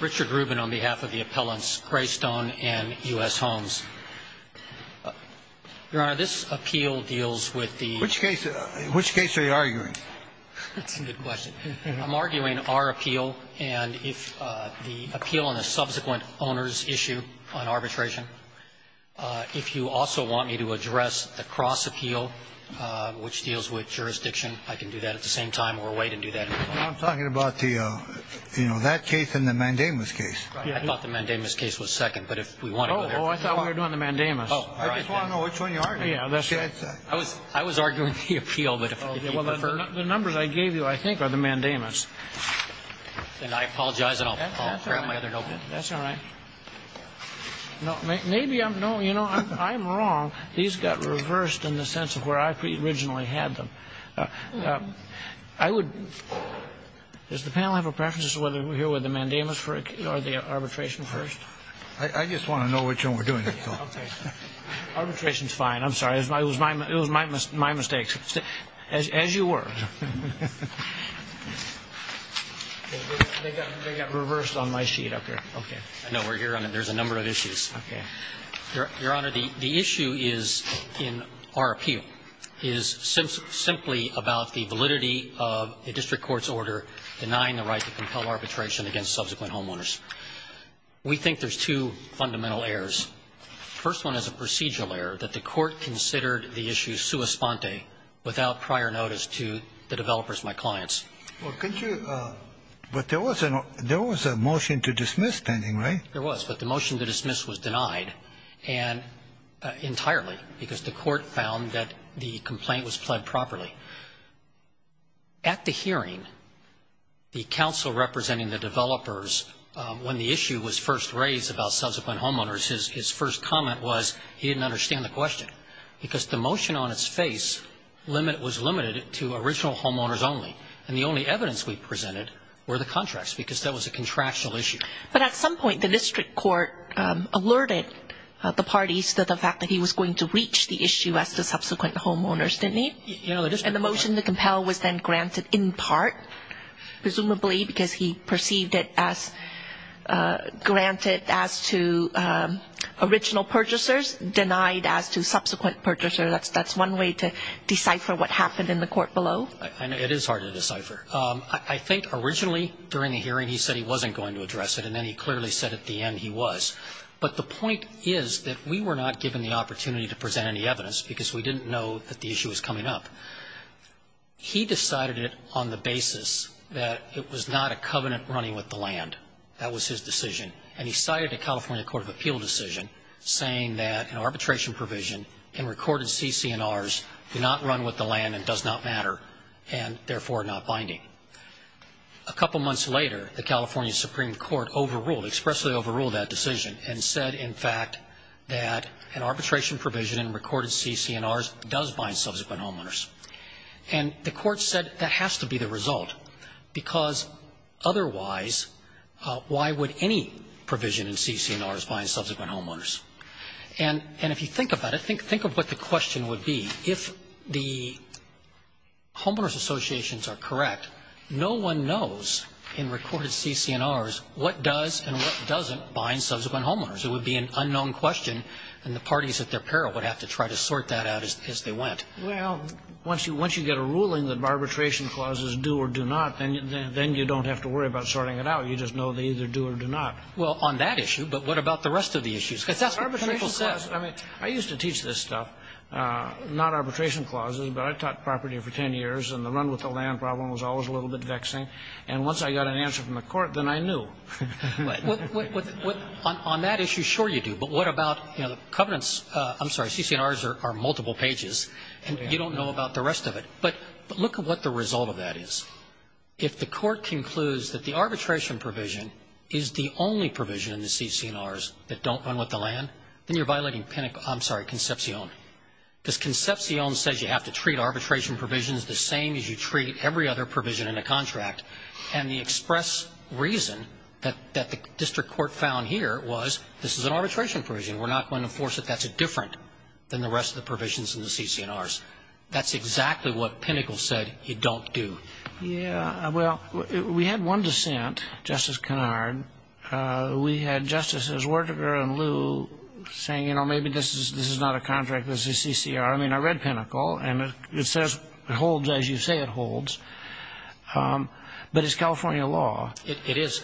Richard Rubin on behalf of the appellants Greystone and U.S. Homes. Your Honor, this appeal deals with the Which case are you arguing? That's a good question. I'm arguing our appeal and if the appeal on the subsequent owner's issue on arbitration, if you also want me to address the cross appeal, which deals with jurisdiction, I can do that at the same time or wait and do that. I'm talking about that case and the mandamus case. I thought the mandamus case was second, but if we want to go there. Oh, I thought we were doing the mandamus. I just want to know which one you're arguing. I was arguing the appeal, but if you prefer. The numbers I gave you, I think, are the mandamus. Then I apologize and I'll grab my other notebook. That's all right. Maybe I'm wrong. These got reversed in the sense of where I originally had them. I would. Does the panel have a preference as to whether we're here with the mandamus or the arbitration first? I just want to know which one we're doing. Arbitration's fine. I'm sorry. It was my mistake, as you were. They got reversed on my sheet up here. I know we're here. There's a number of issues. Your Honor, the issue in our appeal is simply about the validity of the district court's order denying the right to compel arbitration against subsequent homeowners. We think there's two fundamental errors. The first one is a procedural error, that the court considered the issue sua sponte, without prior notice to the developers, my clients. Well, could you – but there was a motion to dismiss pending, right? There was, but the motion to dismiss was denied entirely because the court found that the complaint was pled properly. At the hearing, the counsel representing the developers, when the issue was first raised about subsequent homeowners, his first comment was he didn't understand the question because the motion on its face was limited to original homeowners only, and the only evidence we presented were the contracts because that was a contractual issue. But at some point, the district court alerted the parties to the fact that he was going to reach the issue as to subsequent homeowners, didn't he? And the motion to compel was then granted in part, presumably because he perceived it as granted as to original purchasers, denied as to subsequent purchasers. That's one way to decipher what happened in the court below. It is hard to decipher. I think originally, during the hearing, he said he wasn't going to address it, and then he clearly said at the end he was. But the point is that we were not given the opportunity to present any evidence because we didn't know that the issue was coming up. He decided it on the basis that it was not a covenant running with the land. That was his decision. And he cited a California Court of Appeal decision saying that an arbitration provision in recorded CC&Rs do not run with the land and does not matter and, therefore, not binding. A couple months later, the California Supreme Court overruled, expressly overruled that decision and said, in fact, that an arbitration provision in recorded CC&Rs does bind subsequent homeowners. And the court said that has to be the result because, otherwise, why would any provision in CC&Rs bind subsequent homeowners? And if you think about it, think of what the question would be. If the homeowners associations are correct, no one knows in recorded CC&Rs what does and what doesn't bind subsequent homeowners. It would be an unknown question, and the parties at their peril would have to try to sort that out as they went. Well, once you get a ruling that arbitration clauses do or do not, then you don't have to worry about sorting it out. You just know they either do or do not. Well, on that issue, but what about the rest of the issues? Because that's what the clinical says. I mean, I used to teach this stuff, not arbitration clauses, but I taught property for 10 years, and the run with the land problem was always a little bit vexing. And once I got an answer from the court, then I knew. On that issue, sure you do. But what about the covenants? I'm sorry, CC&Rs are multiple pages, and you don't know about the rest of it. But look at what the result of that is. If the court concludes that the arbitration provision is the only provision in the CC&Rs that don't run with the land, then you're violating Pinnacle – I'm sorry, Concepcion. Because Concepcion says you have to treat arbitration provisions the same as you treat every other provision in a contract, and the express reason that the district court found here was this is an arbitration provision. We're not going to enforce it. That's different than the rest of the provisions in the CC&Rs. That's exactly what Pinnacle said you don't do. Yeah, well, we had one dissent, Justice Kennard. We had Justices Wertiger and Lew saying, you know, maybe this is not a contract, this is CC&R. I mean, I read Pinnacle, and it says it holds as you say it holds. But it's California law. It is.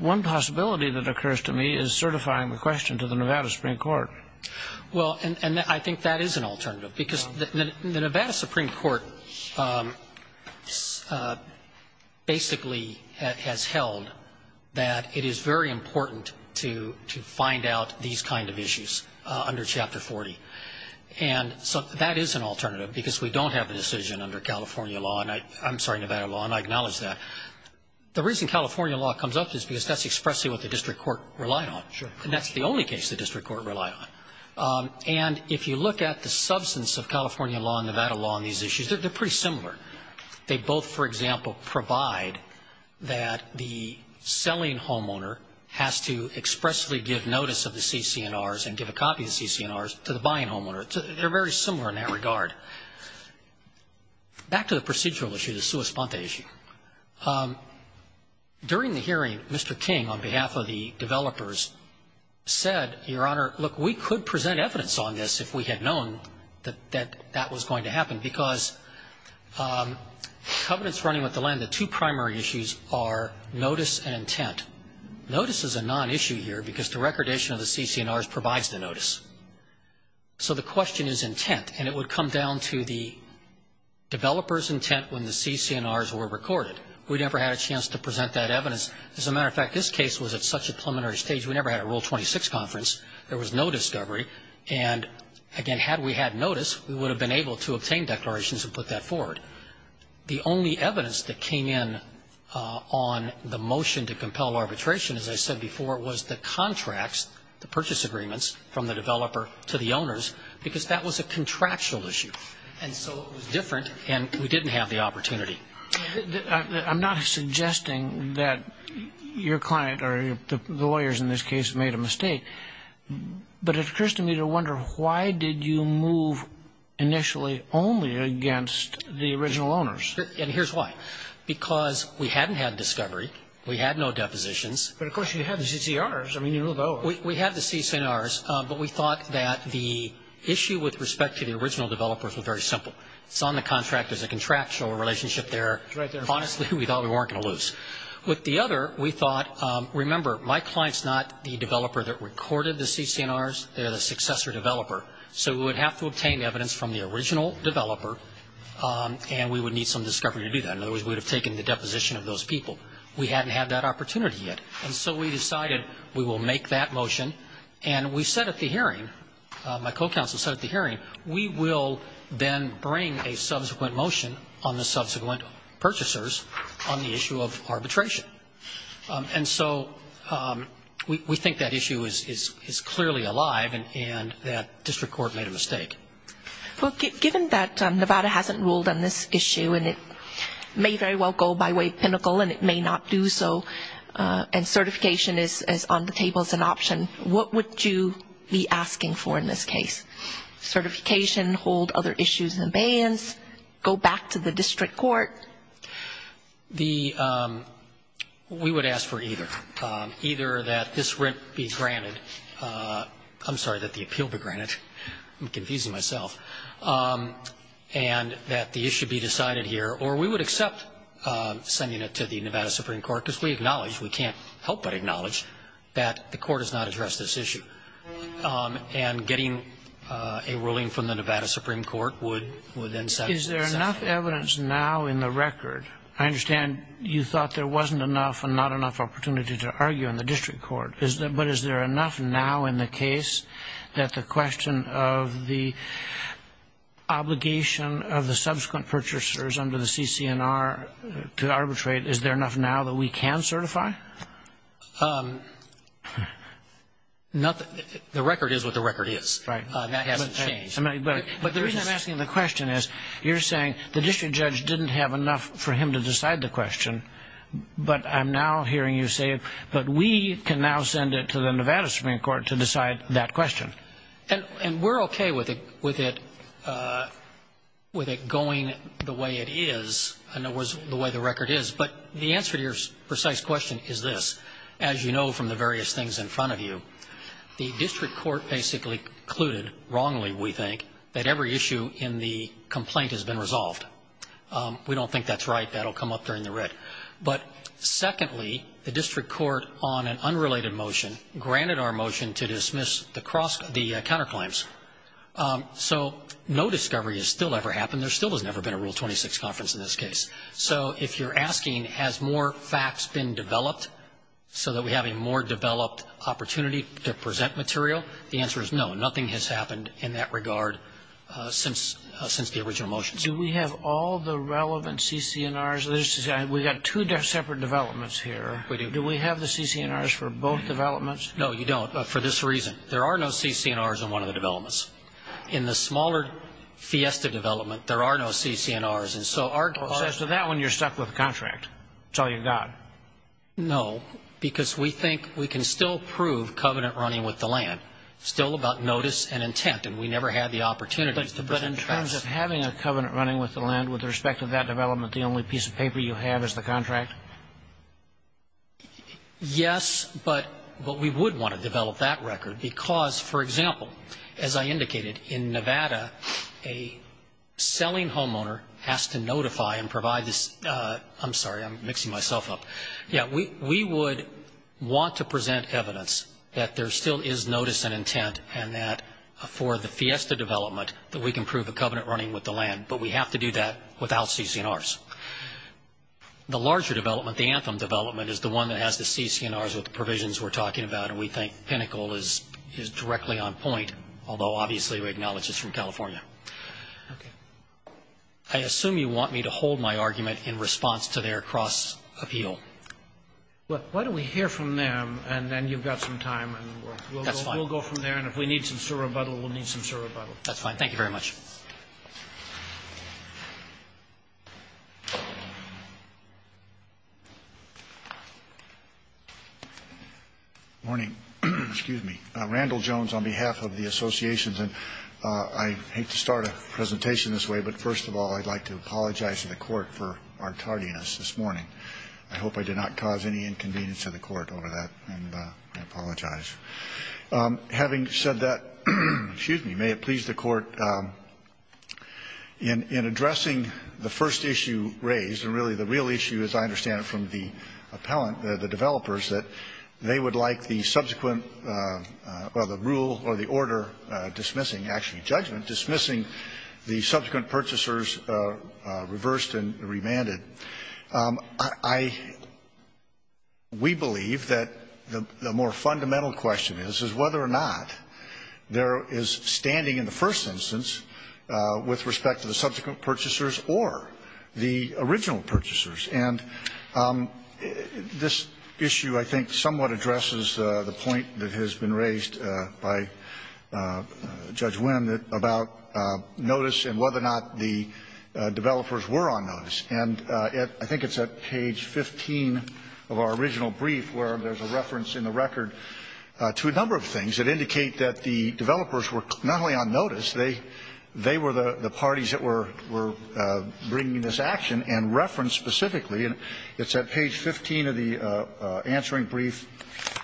One possibility that occurs to me is certifying the question to the Nevada Supreme Court. Well, and I think that is an alternative. Because the Nevada Supreme Court basically has held that it is very important to find out these kind of issues under Chapter 40. And so that is an alternative, because we don't have the decision under California law – I'm sorry, Nevada law, and I acknowledge that. The reason California law comes up is because that's expressly what the district court relied on. Sure. And that's the only case the district court relied on. And if you look at the substance of California law and Nevada law on these issues, they're pretty similar. They both, for example, provide that the selling homeowner has to expressly give notice of the CC&Rs and give a copy of the CC&Rs to the buying homeowner. They're very similar in that regard. Back to the procedural issue, the sua sponta issue. During the hearing, Mr. King, on behalf of the developers, said, Your Honor, look, we could present evidence on this if we had known that that was going to happen. Because covenants running with the land, the two primary issues are notice and intent. Notice is a non-issue here, because the recordation of the CC&Rs provides the notice. So the question is intent. And it would come down to the developer's intent when the CC&Rs were recorded. We never had a chance to present that evidence. As a matter of fact, this case was at such a preliminary stage, we never had a Rule 26 conference. There was no discovery. And, again, had we had notice, we would have been able to obtain declarations and put that forward. The only evidence that came in on the motion to compel arbitration, as I said before, was the contracts, the purchase agreements, from the developer to the owners, because that was a contractual issue. And so it was different, and we didn't have the opportunity. I'm not suggesting that your client or the lawyers in this case made a mistake, but it occurs to me to wonder why did you move initially only against the original owners? And here's why. Because we hadn't had discovery. We had no depositions. But, of course, you had the CC&Rs. I mean, you moved over. We had the CC&Rs, but we thought that the issue with respect to the original developers was very simple. It's on the contract. There's a contractual relationship there. Honestly, we thought we weren't going to lose. With the other, we thought, remember, my client's not the developer that recorded the CC&Rs. They're the successor developer. So we would have to obtain evidence from the original developer, and we would need some discovery to do that. In other words, we would have taken the deposition of those people. We hadn't had that opportunity yet. And so we decided we will make that motion, and we said at the hearing, my co-counsel said at the hearing, we will then bring a subsequent motion on the subsequent purchasers on the issue of arbitration. And so we think that issue is clearly alive and that district court made a mistake. Well, given that Nevada hasn't ruled on this issue, and it may very well go by way of Pinnacle, and it may not do so, and certification is on the table as an option, what would you be asking for in this case? Certification, hold other issues in abeyance, go back to the district court? We would ask for either. Either that this rent be granted. I'm sorry, that the appeal be granted. I'm confusing myself. And that the issue be decided here. Or we would accept sending it to the Nevada Supreme Court, because we acknowledge, we can't help but acknowledge, that the court has not addressed this issue. And getting a ruling from the Nevada Supreme Court would then settle the matter. Is there enough evidence now in the record? I understand you thought there wasn't enough and not enough opportunity to argue in the district court. But is there enough now in the case that the question of the obligation of the subsequent purchasers under the CCNR to arbitrate, is there enough now that we can certify? The record is what the record is. That hasn't changed. But the reason I'm asking the question is, you're saying the district judge didn't have enough for him to decide the question. But I'm now hearing you say, but we can now send it to the Nevada Supreme Court to decide that question. And we're okay with it going the way it is, in other words, the way the record is. But the answer to your precise question is this. As you know from the various things in front of you, the district court basically concluded, wrongly we think, that every issue in the complaint has been resolved. We don't think that's right. That will come up during the writ. But secondly, the district court on an unrelated motion granted our motion to dismiss the counterclaims. So no discovery has still ever happened. There still has never been a Rule 26 conference in this case. So if you're asking, has more facts been developed so that we have a more developed opportunity to present material, the answer is no, nothing has happened in that regard since the original motion. Do we have all the relevant CC&Rs? We've got two separate developments here. We do. Do we have the CC&Rs for both developments? No, you don't, for this reason. There are no CC&Rs in one of the developments. In the smaller Fiesta development, there are no CC&Rs. So as to that one, you're stuck with the contract. It's all you've got. No, because we think we can still prove covenant running with the land. It's still about notice and intent, and we never had the opportunity to present facts. In terms of having a covenant running with the land, with respect to that development, the only piece of paper you have is the contract? Yes, but we would want to develop that record because, for example, as I indicated, in Nevada, a selling homeowner has to notify and provide this ‑‑ I'm sorry, I'm mixing myself up. Yeah, we would want to present evidence that there still is notice and intent and that for the Fiesta development that we can prove a covenant running with the land, but we have to do that without CC&Rs. The larger development, the Anthem development, is the one that has the CC&Rs with the provisions we're talking about, and we think Pinnacle is directly on point, although obviously we acknowledge it's from California. Okay. I assume you want me to hold my argument in response to their cross appeal. Why don't we hear from them, and then you've got some time. That's fine. We'll go from there, and if we need some sort of rebuttal, we'll need some sort of rebuttal. That's fine. Thank you very much. Morning. Excuse me. Randall Jones on behalf of the associations, and I hate to start a presentation this way, but first of all, I'd like to apologize to the Court for our tardiness this morning. I hope I did not cause any inconvenience to the Court over that, and I apologize. Having said that, excuse me, may it please the Court, in addressing the first issue raised, and really the real issue, as I understand it, from the appellant, the developers, that they would like the subsequent or the rule or the order dismissing actually judgment, dismissing the subsequent purchasers reversed and remanded. I, we believe that the more fundamental question is, is whether or not there is standing in the first instance with respect to the subsequent purchasers or the original purchasers, and this issue, I think, somewhat addresses the point that has been raised by Judge Wynn about notice and whether or not the developers were on notice. And I think it's at page 15 of our original brief where there's a reference in the record to a number of things that indicate that the developers were not only on notice, they were the parties that were bringing this action and referenced specifically. And it's at page 15 of the answering brief,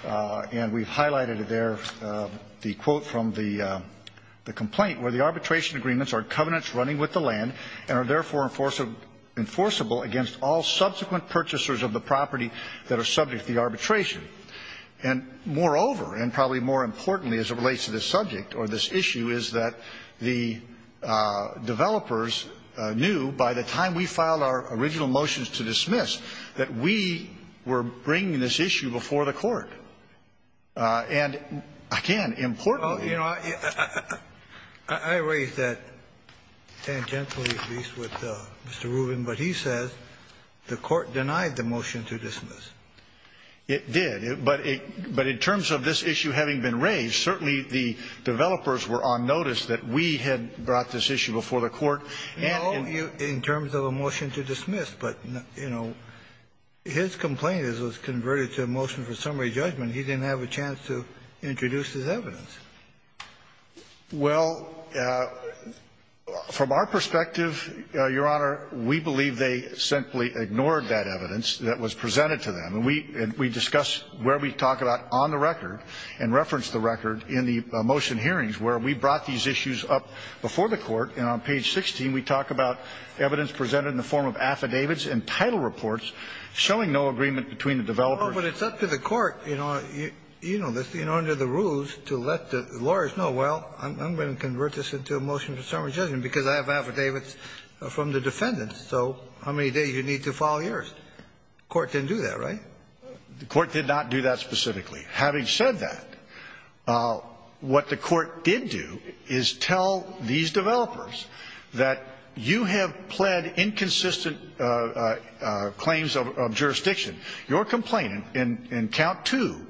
and we've highlighted it there, the quote from the complaint, where the arbitration agreements are covenants running with the land and are therefore enforceable against all subsequent purchasers of the property that are subject to the arbitration. And, moreover, and probably more importantly as it relates to this subject or this issue, is that the developers knew by the time we filed our original motions to dismiss that we were bringing this issue before the Court. And, again, importantly ---- Kennedy. I raised that tangentially, at least, with Mr. Rubin, but he says the Court denied the motion to dismiss. It did. But in terms of this issue having been raised, certainly the developers were on notice that we had brought this issue before the Court. No, in terms of a motion to dismiss. But, you know, his complaint was converted to a motion for summary judgment. He didn't have a chance to introduce his evidence. Well, from our perspective, Your Honor, we believe they simply ignored that evidence that was presented to them. And we discuss where we talk about on the record and reference the record in the motion hearings where we brought these issues up before the Court. And on page 16, we talk about evidence presented in the form of affidavits and title reports showing no agreement between the developers. Well, but it's up to the Court, you know, under the rules, to let the lawyers know, well, I'm going to convert this into a motion for summary judgment because I have affidavits from the defendants. So how many days do you need to file yours? The Court didn't do that, right? The Court did not do that specifically. Having said that, what the Court did do is tell these developers that you have pled inconsistent claims of jurisdiction. Your complaint in count two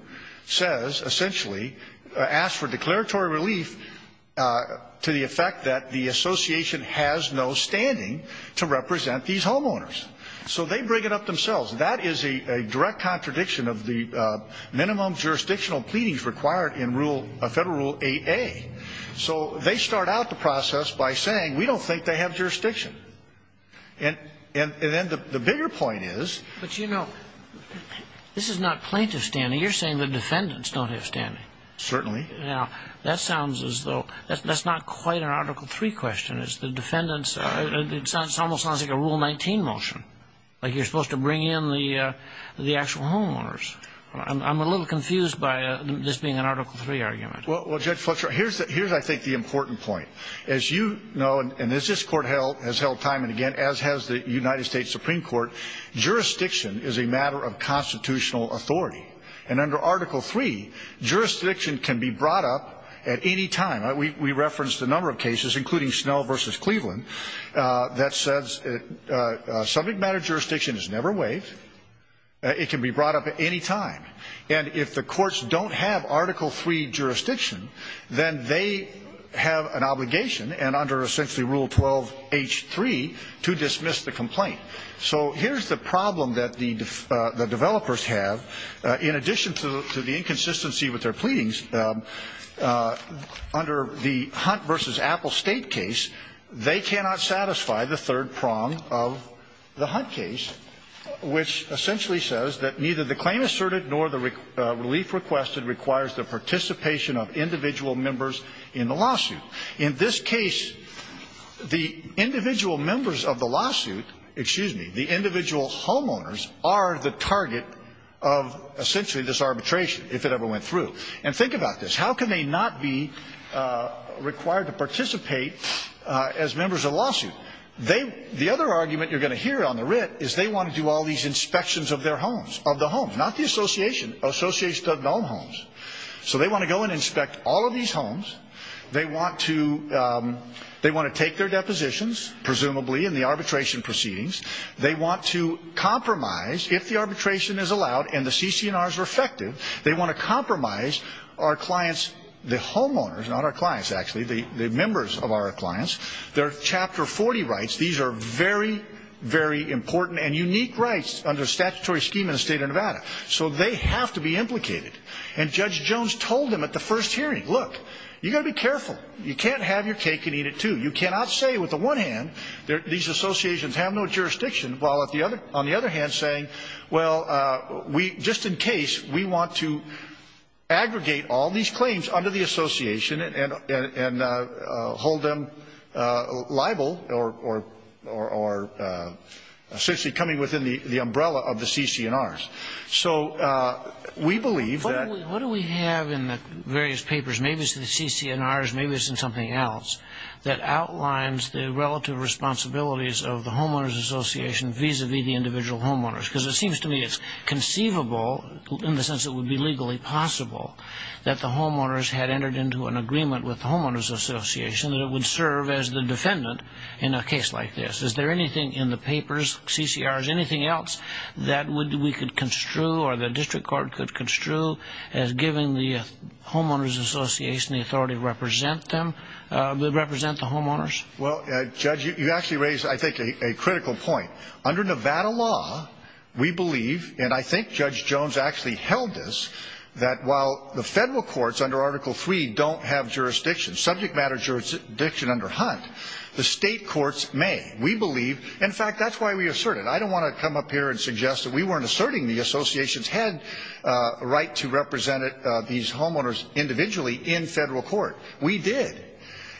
says essentially asks for declaratory relief to the effect that the association has no standing to represent these homeowners. So they bring it up themselves. That is a direct contradiction of the minimum jurisdictional pleadings required in Federal Rule 8A. So they start out the process by saying we don't think they have jurisdiction. And then the bigger point is. But, you know, this is not plaintiff standing. You're saying the defendants don't have standing. Certainly. Now, that sounds as though that's not quite an Article III question. It's the defendants. It almost sounds like a Rule 19 motion, like you're supposed to bring in the actual homeowners. I'm a little confused by this being an Article III argument. Well, Judge Fletcher, here's, I think, the important point. As you know, and as this Court has held time and again, as has the United States Supreme Court, jurisdiction is a matter of constitutional authority. And under Article III, jurisdiction can be brought up at any time. We referenced a number of cases, including Snell v. Cleveland, that says subject matter jurisdiction is never waived. It can be brought up at any time. And if the courts don't have Article III jurisdiction, then they have an obligation, and under essentially Rule 12H3, to dismiss the complaint. So here's the problem that the developers have. In addition to the inconsistency with their pleadings, under the Hunt v. Apple State case, they cannot satisfy the third prong of the Hunt case, which essentially says that neither the claim asserted nor the relief requested requires the participation of individual members in the lawsuit. In this case, the individual members of the lawsuit, excuse me, the individual homeowners are the target of essentially this arbitration, if it ever went through. And think about this. How can they not be required to participate as members of the lawsuit? The other argument you're going to hear on the writ is they want to do all these inspections of their homes, of the homes, not the association. Associations don't own homes. So they want to go and inspect all of these homes. They want to take their depositions, presumably, in the arbitration proceedings. They want to compromise, if the arbitration is allowed and the CC&Rs are effective, they want to compromise our clients, the homeowners, not our clients, actually, the members of our clients, their Chapter 40 rights. These are very, very important and unique rights under a statutory scheme in the state of Nevada. So they have to be implicated. And Judge Jones told them at the first hearing, look, you've got to be careful. You can't have your cake and eat it, too. You cannot say with the one hand these associations have no jurisdiction, while on the other hand saying, well, just in case, we want to aggregate all these claims under the association and hold them liable or essentially coming within the umbrella of the CC&Rs. So we believe that – What do we have in the various papers, maybe it's in the CC&Rs, maybe it's in something else, that outlines the relative responsibilities of the homeowners association vis-à-vis the individual homeowners? Because it seems to me it's conceivable, in the sense it would be legally possible, that the homeowners had entered into an agreement with the homeowners association that it would serve as the defendant in a case like this. Is there anything in the papers, CC&Rs, anything else that we could construe or the district court could construe as giving the homeowners association the authority to represent them, represent the homeowners? Well, Judge, you actually raise, I think, a critical point. Under Nevada law, we believe, and I think Judge Jones actually held this, that while the federal courts under Article III don't have jurisdiction, subject matter jurisdiction under Hunt, the state courts may. We believe – in fact, that's why we assert it. I don't want to come up here and suggest that we weren't asserting the association's head right to represent these homeowners individually in federal court. We did.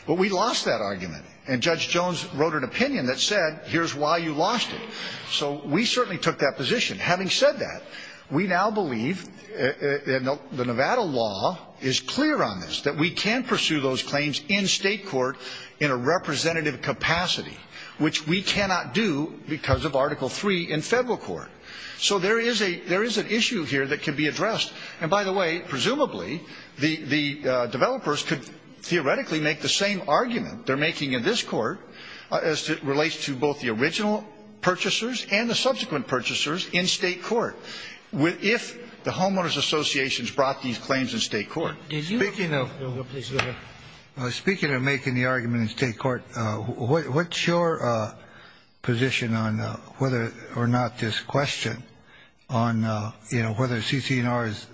But we lost that argument. And Judge Jones wrote an opinion that said, here's why you lost it. So we certainly took that position. Having said that, we now believe, and the Nevada law is clear on this, that we can pursue those claims in state court in a representative capacity, which we cannot do because of Article III in federal court. So there is an issue here that can be addressed. And by the way, presumably, the developers could theoretically make the same argument they're making in this court as it relates to both the original purchasers and the subsequent purchasers in state court, if the homeowners associations brought these claims in state court. Speaking of making the argument in state court, what's your position on whether or not this question on whether CC&R is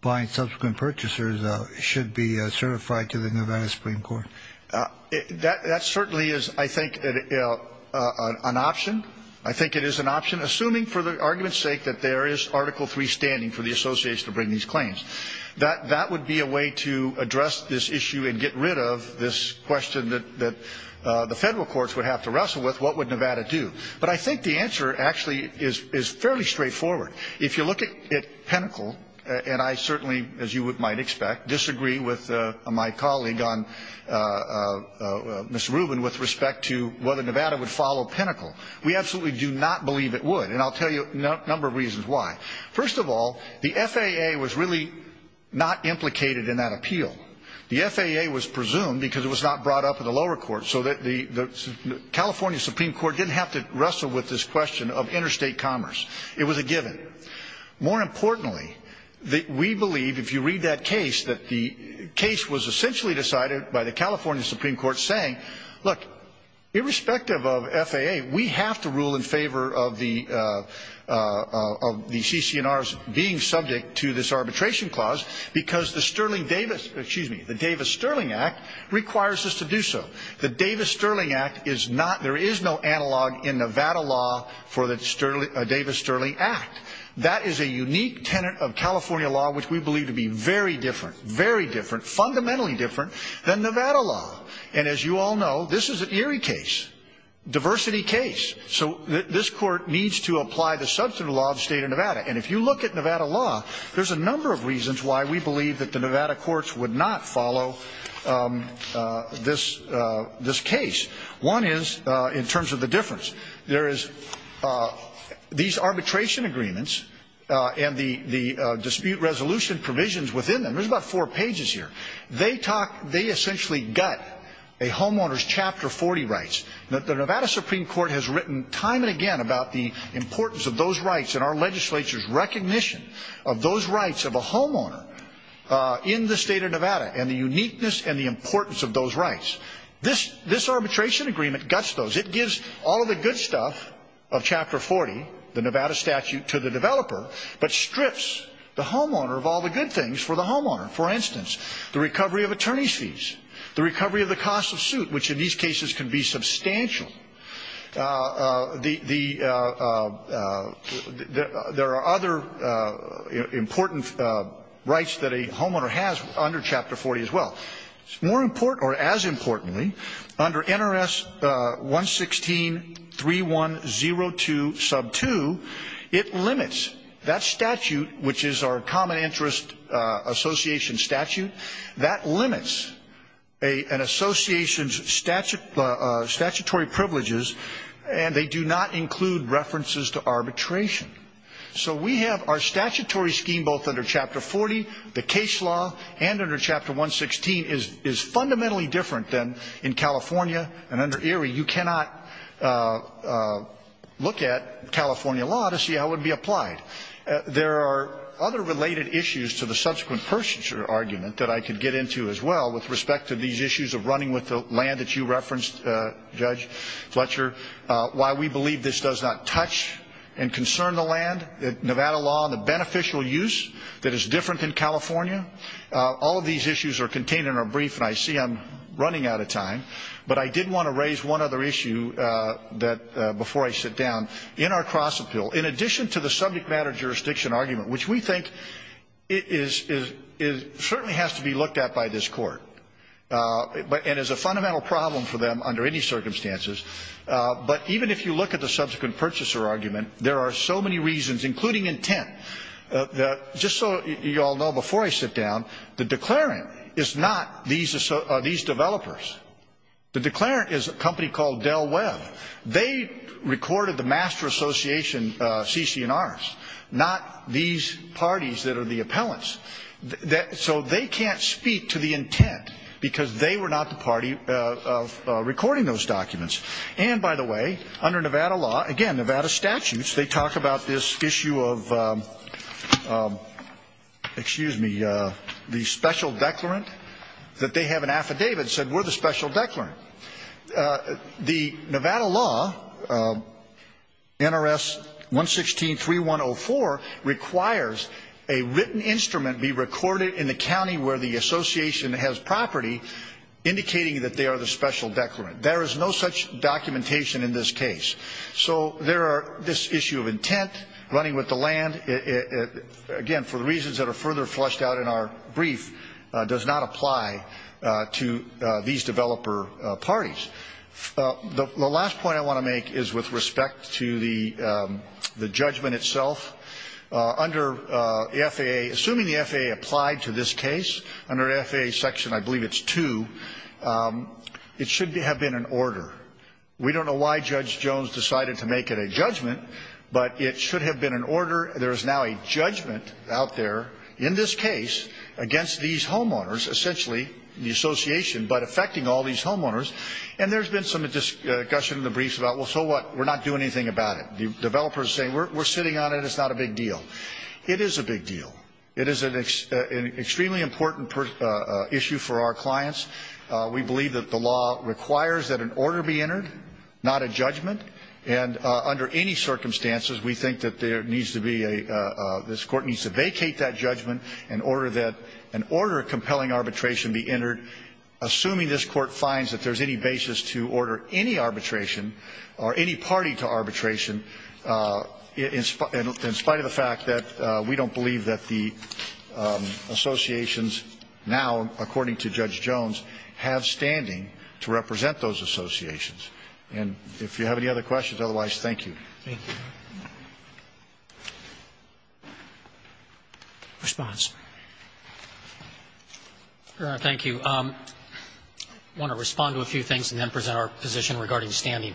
buying subsequent purchasers should be certified to the Nevada Supreme Court? That certainly is, I think, an option. I think it is an option, assuming, for the argument's sake, that there is Article III standing for the association to bring these claims. That would be a way to address this issue and get rid of this question that the federal courts would have to wrestle with, what would Nevada do? But I think the answer actually is fairly straightforward. If you look at Pinnacle, and I certainly, as you might expect, disagree with my colleague, Ms. Rubin, with respect to whether Nevada would follow Pinnacle. We absolutely do not believe it would, and I'll tell you a number of reasons why. First of all, the FAA was really not implicated in that appeal. The FAA was presumed because it was not brought up in the lower court, so that the California Supreme Court didn't have to wrestle with this question of interstate commerce. It was a given. More importantly, we believe, if you read that case, that the case was essentially decided by the California Supreme Court saying, look, irrespective of FAA, we have to rule in favor of the CCNRs being subject to this arbitration clause because the Davis-Sterling Act requires us to do so. The Davis-Sterling Act is not, there is no analog in Nevada law for the Davis-Sterling Act. That is a unique tenet of California law, which we believe to be very different, very different, fundamentally different than Nevada law. And as you all know, this is an eerie case, diversity case. So this court needs to apply the substantive law of the state of Nevada. And if you look at Nevada law, there's a number of reasons why we believe that the Nevada courts would not follow this case. One is in terms of the difference. There is these arbitration agreements and the dispute resolution provisions within them. There's about four pages here. They essentially gut a homeowner's Chapter 40 rights. The Nevada Supreme Court has written time and again about the importance of those rights and our legislature's recognition of those rights of a homeowner in the state of Nevada and the uniqueness and the importance of those rights. This arbitration agreement guts those. It gives all of the good stuff of Chapter 40, the Nevada statute, to the developer, but strips the homeowner of all the good things for the homeowner. For instance, the recovery of attorney's fees, the recovery of the cost of suit, which in these cases can be substantial. There are other important rights that a homeowner has under Chapter 40 as well. More important, or as importantly, under NRS 116.3102 sub 2, it limits that statute, which is our common interest association statute, that limits an association's statutory privileges, and they do not include references to arbitration. So we have our statutory scheme both under Chapter 40, the case law, and under Chapter 116 is fundamentally different than in California, and under Erie you cannot look at California law to see how it would be applied. There are other related issues to the subsequent Purchaser argument that I could get into as well with respect to these issues of running with the land that you referenced, Judge Fletcher, why we believe this does not touch and concern the land, Nevada law and the beneficial use that is different than California. All of these issues are contained in our brief, and I see I'm running out of time, but I did want to raise one other issue before I sit down. In our cross-appeal, in addition to the subject matter jurisdiction argument, which we think certainly has to be looked at by this Court and is a fundamental problem for them under any circumstances, but even if you look at the subsequent Purchaser argument, there are so many reasons, including intent. Just so you all know before I sit down, the declarant is not these developers. The declarant is a company called Dell Web. They recorded the Master Association CC&Rs, not these parties that are the appellants. So they can't speak to the intent because they were not the party recording those documents. And, by the way, under Nevada law, again, Nevada statutes, they talk about this issue of, excuse me, the special declarant, that they have an affidavit that said we're the special declarant. The Nevada law, NRS 116.3104, requires a written instrument be recorded in the county where the association has property, indicating that they are the special declarant. There is no such documentation in this case. So there are this issue of intent, running with the land, again, for reasons that are further flushed out in our brief, does not apply to these developer parties. The last point I want to make is with respect to the judgment itself. Under the FAA, assuming the FAA applied to this case, under FAA section, I believe it's two, it should have been an order. We don't know why Judge Jones decided to make it a judgment, but it should have been an order. There is now a judgment out there in this case against these homeowners, essentially the association, but affecting all these homeowners. And there's been some discussion in the briefs about, well, so what, we're not doing anything about it. The developers are saying, we're sitting on it, it's not a big deal. It is a big deal. It is an extremely important issue for our clients. We believe that the law requires that an order be entered, not a judgment. And under any circumstances, we think that there needs to be a, this Court needs to vacate that judgment in order that an order of compelling arbitration be entered. Assuming this Court finds that there's any basis to order any arbitration or any party to arbitration, in spite of the fact that we don't believe that the associations now, according to Judge Jones, have standing to represent those associations. And if you have any other questions, otherwise, thank you. Roberts. Thank you. Response. Your Honor, thank you. I want to respond to a few things and then present our position regarding standing.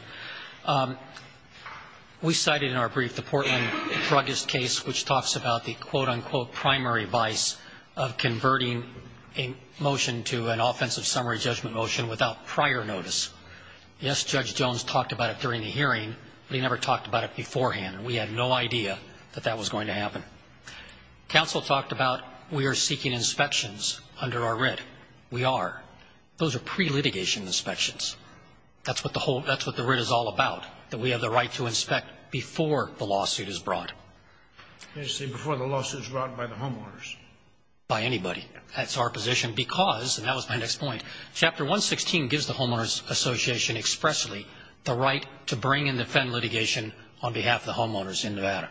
We cited in our brief the Portland Druggist case, which talks about the quote, unquote, primary vice of converting a motion to an offensive summary judgment motion without prior notice. Yes, Judge Jones talked about it during the hearing, but he never talked about it beforehand, and we had no idea that that was going to happen. Counsel talked about we are seeking inspections under our writ. We are. Those are pre-litigation inspections. That's what the writ is all about, that we have the right to inspect before the lawsuit is brought. You're saying before the lawsuit is brought by the homeowners. By anybody. That's our position because, and that was my next point, Chapter 116 gives the homeowners association expressly the right to bring and defend litigation on behalf of the homeowners in Nevada.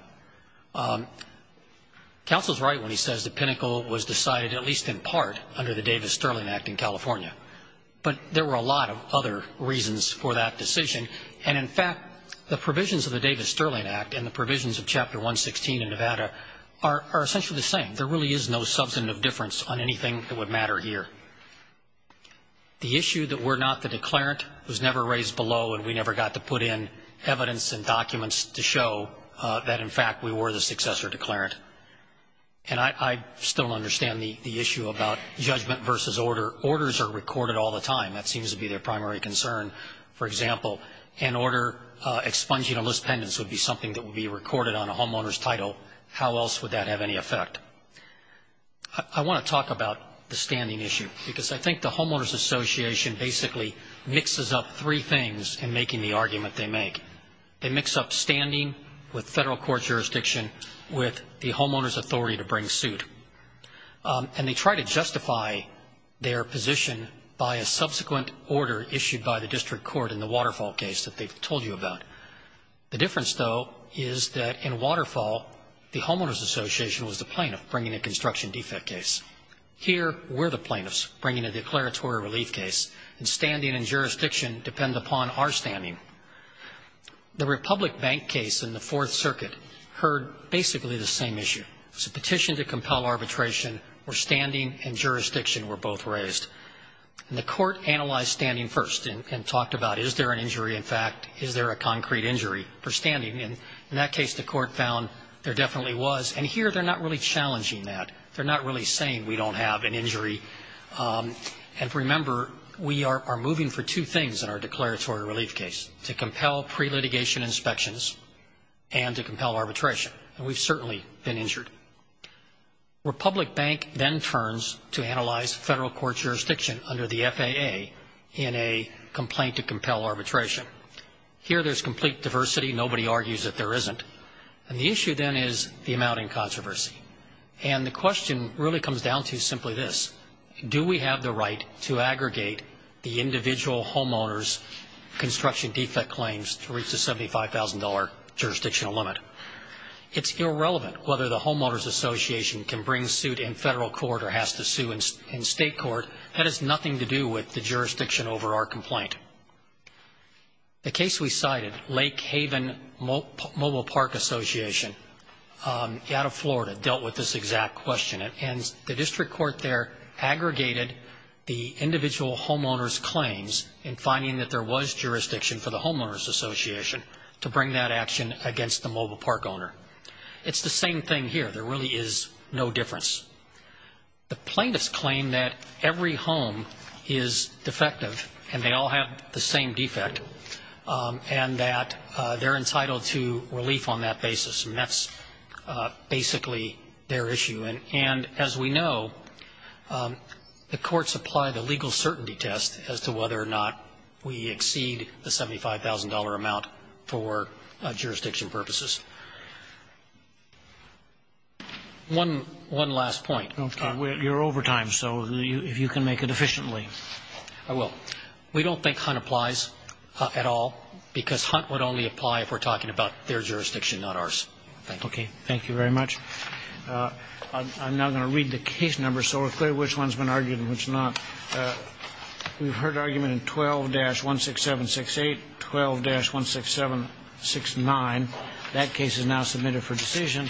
Counsel is right when he says the pinnacle was decided, at least in part, under the Davis-Sterling Act in California, but there were a lot of other reasons for that decision. And, in fact, the provisions of the Davis-Sterling Act and the provisions of Chapter 116 in Nevada are essentially the same. There really is no substantive difference on anything that would matter here. The issue that we're not the declarant was never raised below, and we never got to put in evidence and documents to show that, in fact, we were the successor declarant. And I still don't understand the issue about judgment versus order. Orders are recorded all the time. That seems to be their primary concern. For example, an order expunging a list pendant would be something that would be recorded on a homeowner's title. How else would that have any effect? I want to talk about the standing issue, because I think the homeowners association basically mixes up three things in making the argument they make. They mix up standing with federal court jurisdiction with the homeowners authority to bring suit. And they try to justify their position by a subsequent order issued by the district court in the Waterfall case that they've told you about. The difference, though, is that in Waterfall, the homeowners association was the plaintiff bringing a construction defect case. Here, we're the plaintiffs bringing a declaratory relief case, and standing and jurisdiction depend upon our standing. The Republic Bank case in the Fourth Circuit heard basically the same issue. It was a petition to compel arbitration where standing and jurisdiction were both raised. The court analyzed standing first and talked about, is there an injury in fact? Is there a concrete injury for standing? And in that case, the court found there definitely was. And here, they're not really challenging that. They're not really saying we don't have an injury. And remember, we are moving for two things in our declaratory relief case, to compel pre-litigation inspections and to compel arbitration. And we've certainly been injured. Republic Bank then turns to analyze federal court jurisdiction under the FAA in a complaint to compel arbitration. Here, there's complete diversity. Nobody argues that there isn't. And the issue then is the amount in controversy. And the question really comes down to simply this. Do we have the right to aggregate the individual homeowners' construction defect claims to reach the $75,000 jurisdictional limit? It's irrelevant whether the homeowners' association can bring suit in federal court or has to sue in state court. That has nothing to do with the jurisdiction over our complaint. The case we cited, Lake Haven Mobile Park Association out of Florida, dealt with this exact question. And the district court there aggregated the individual homeowners' claims in finding that there was jurisdiction for the homeowners' association to bring that action against the mobile park owner. It's the same thing here. There really is no difference. The plaintiffs claim that every home is defective and they all have the same defect and that they're entitled to relief on that basis. And that's basically their issue. And as we know, the courts apply the legal certainty test as to whether or not we exceed the $75,000 amount for jurisdiction purposes. One last point. You're over time, so if you can make it efficiently. I will. We don't think Hunt applies at all because Hunt would only apply if we're talking about their jurisdiction, not ours. Thank you. Okay. Thank you very much. I'm now going to read the case numbers so we're clear which one's been argued and which not. We've heard argument in 12-16768, 12-16769. That case is now submitted for decision.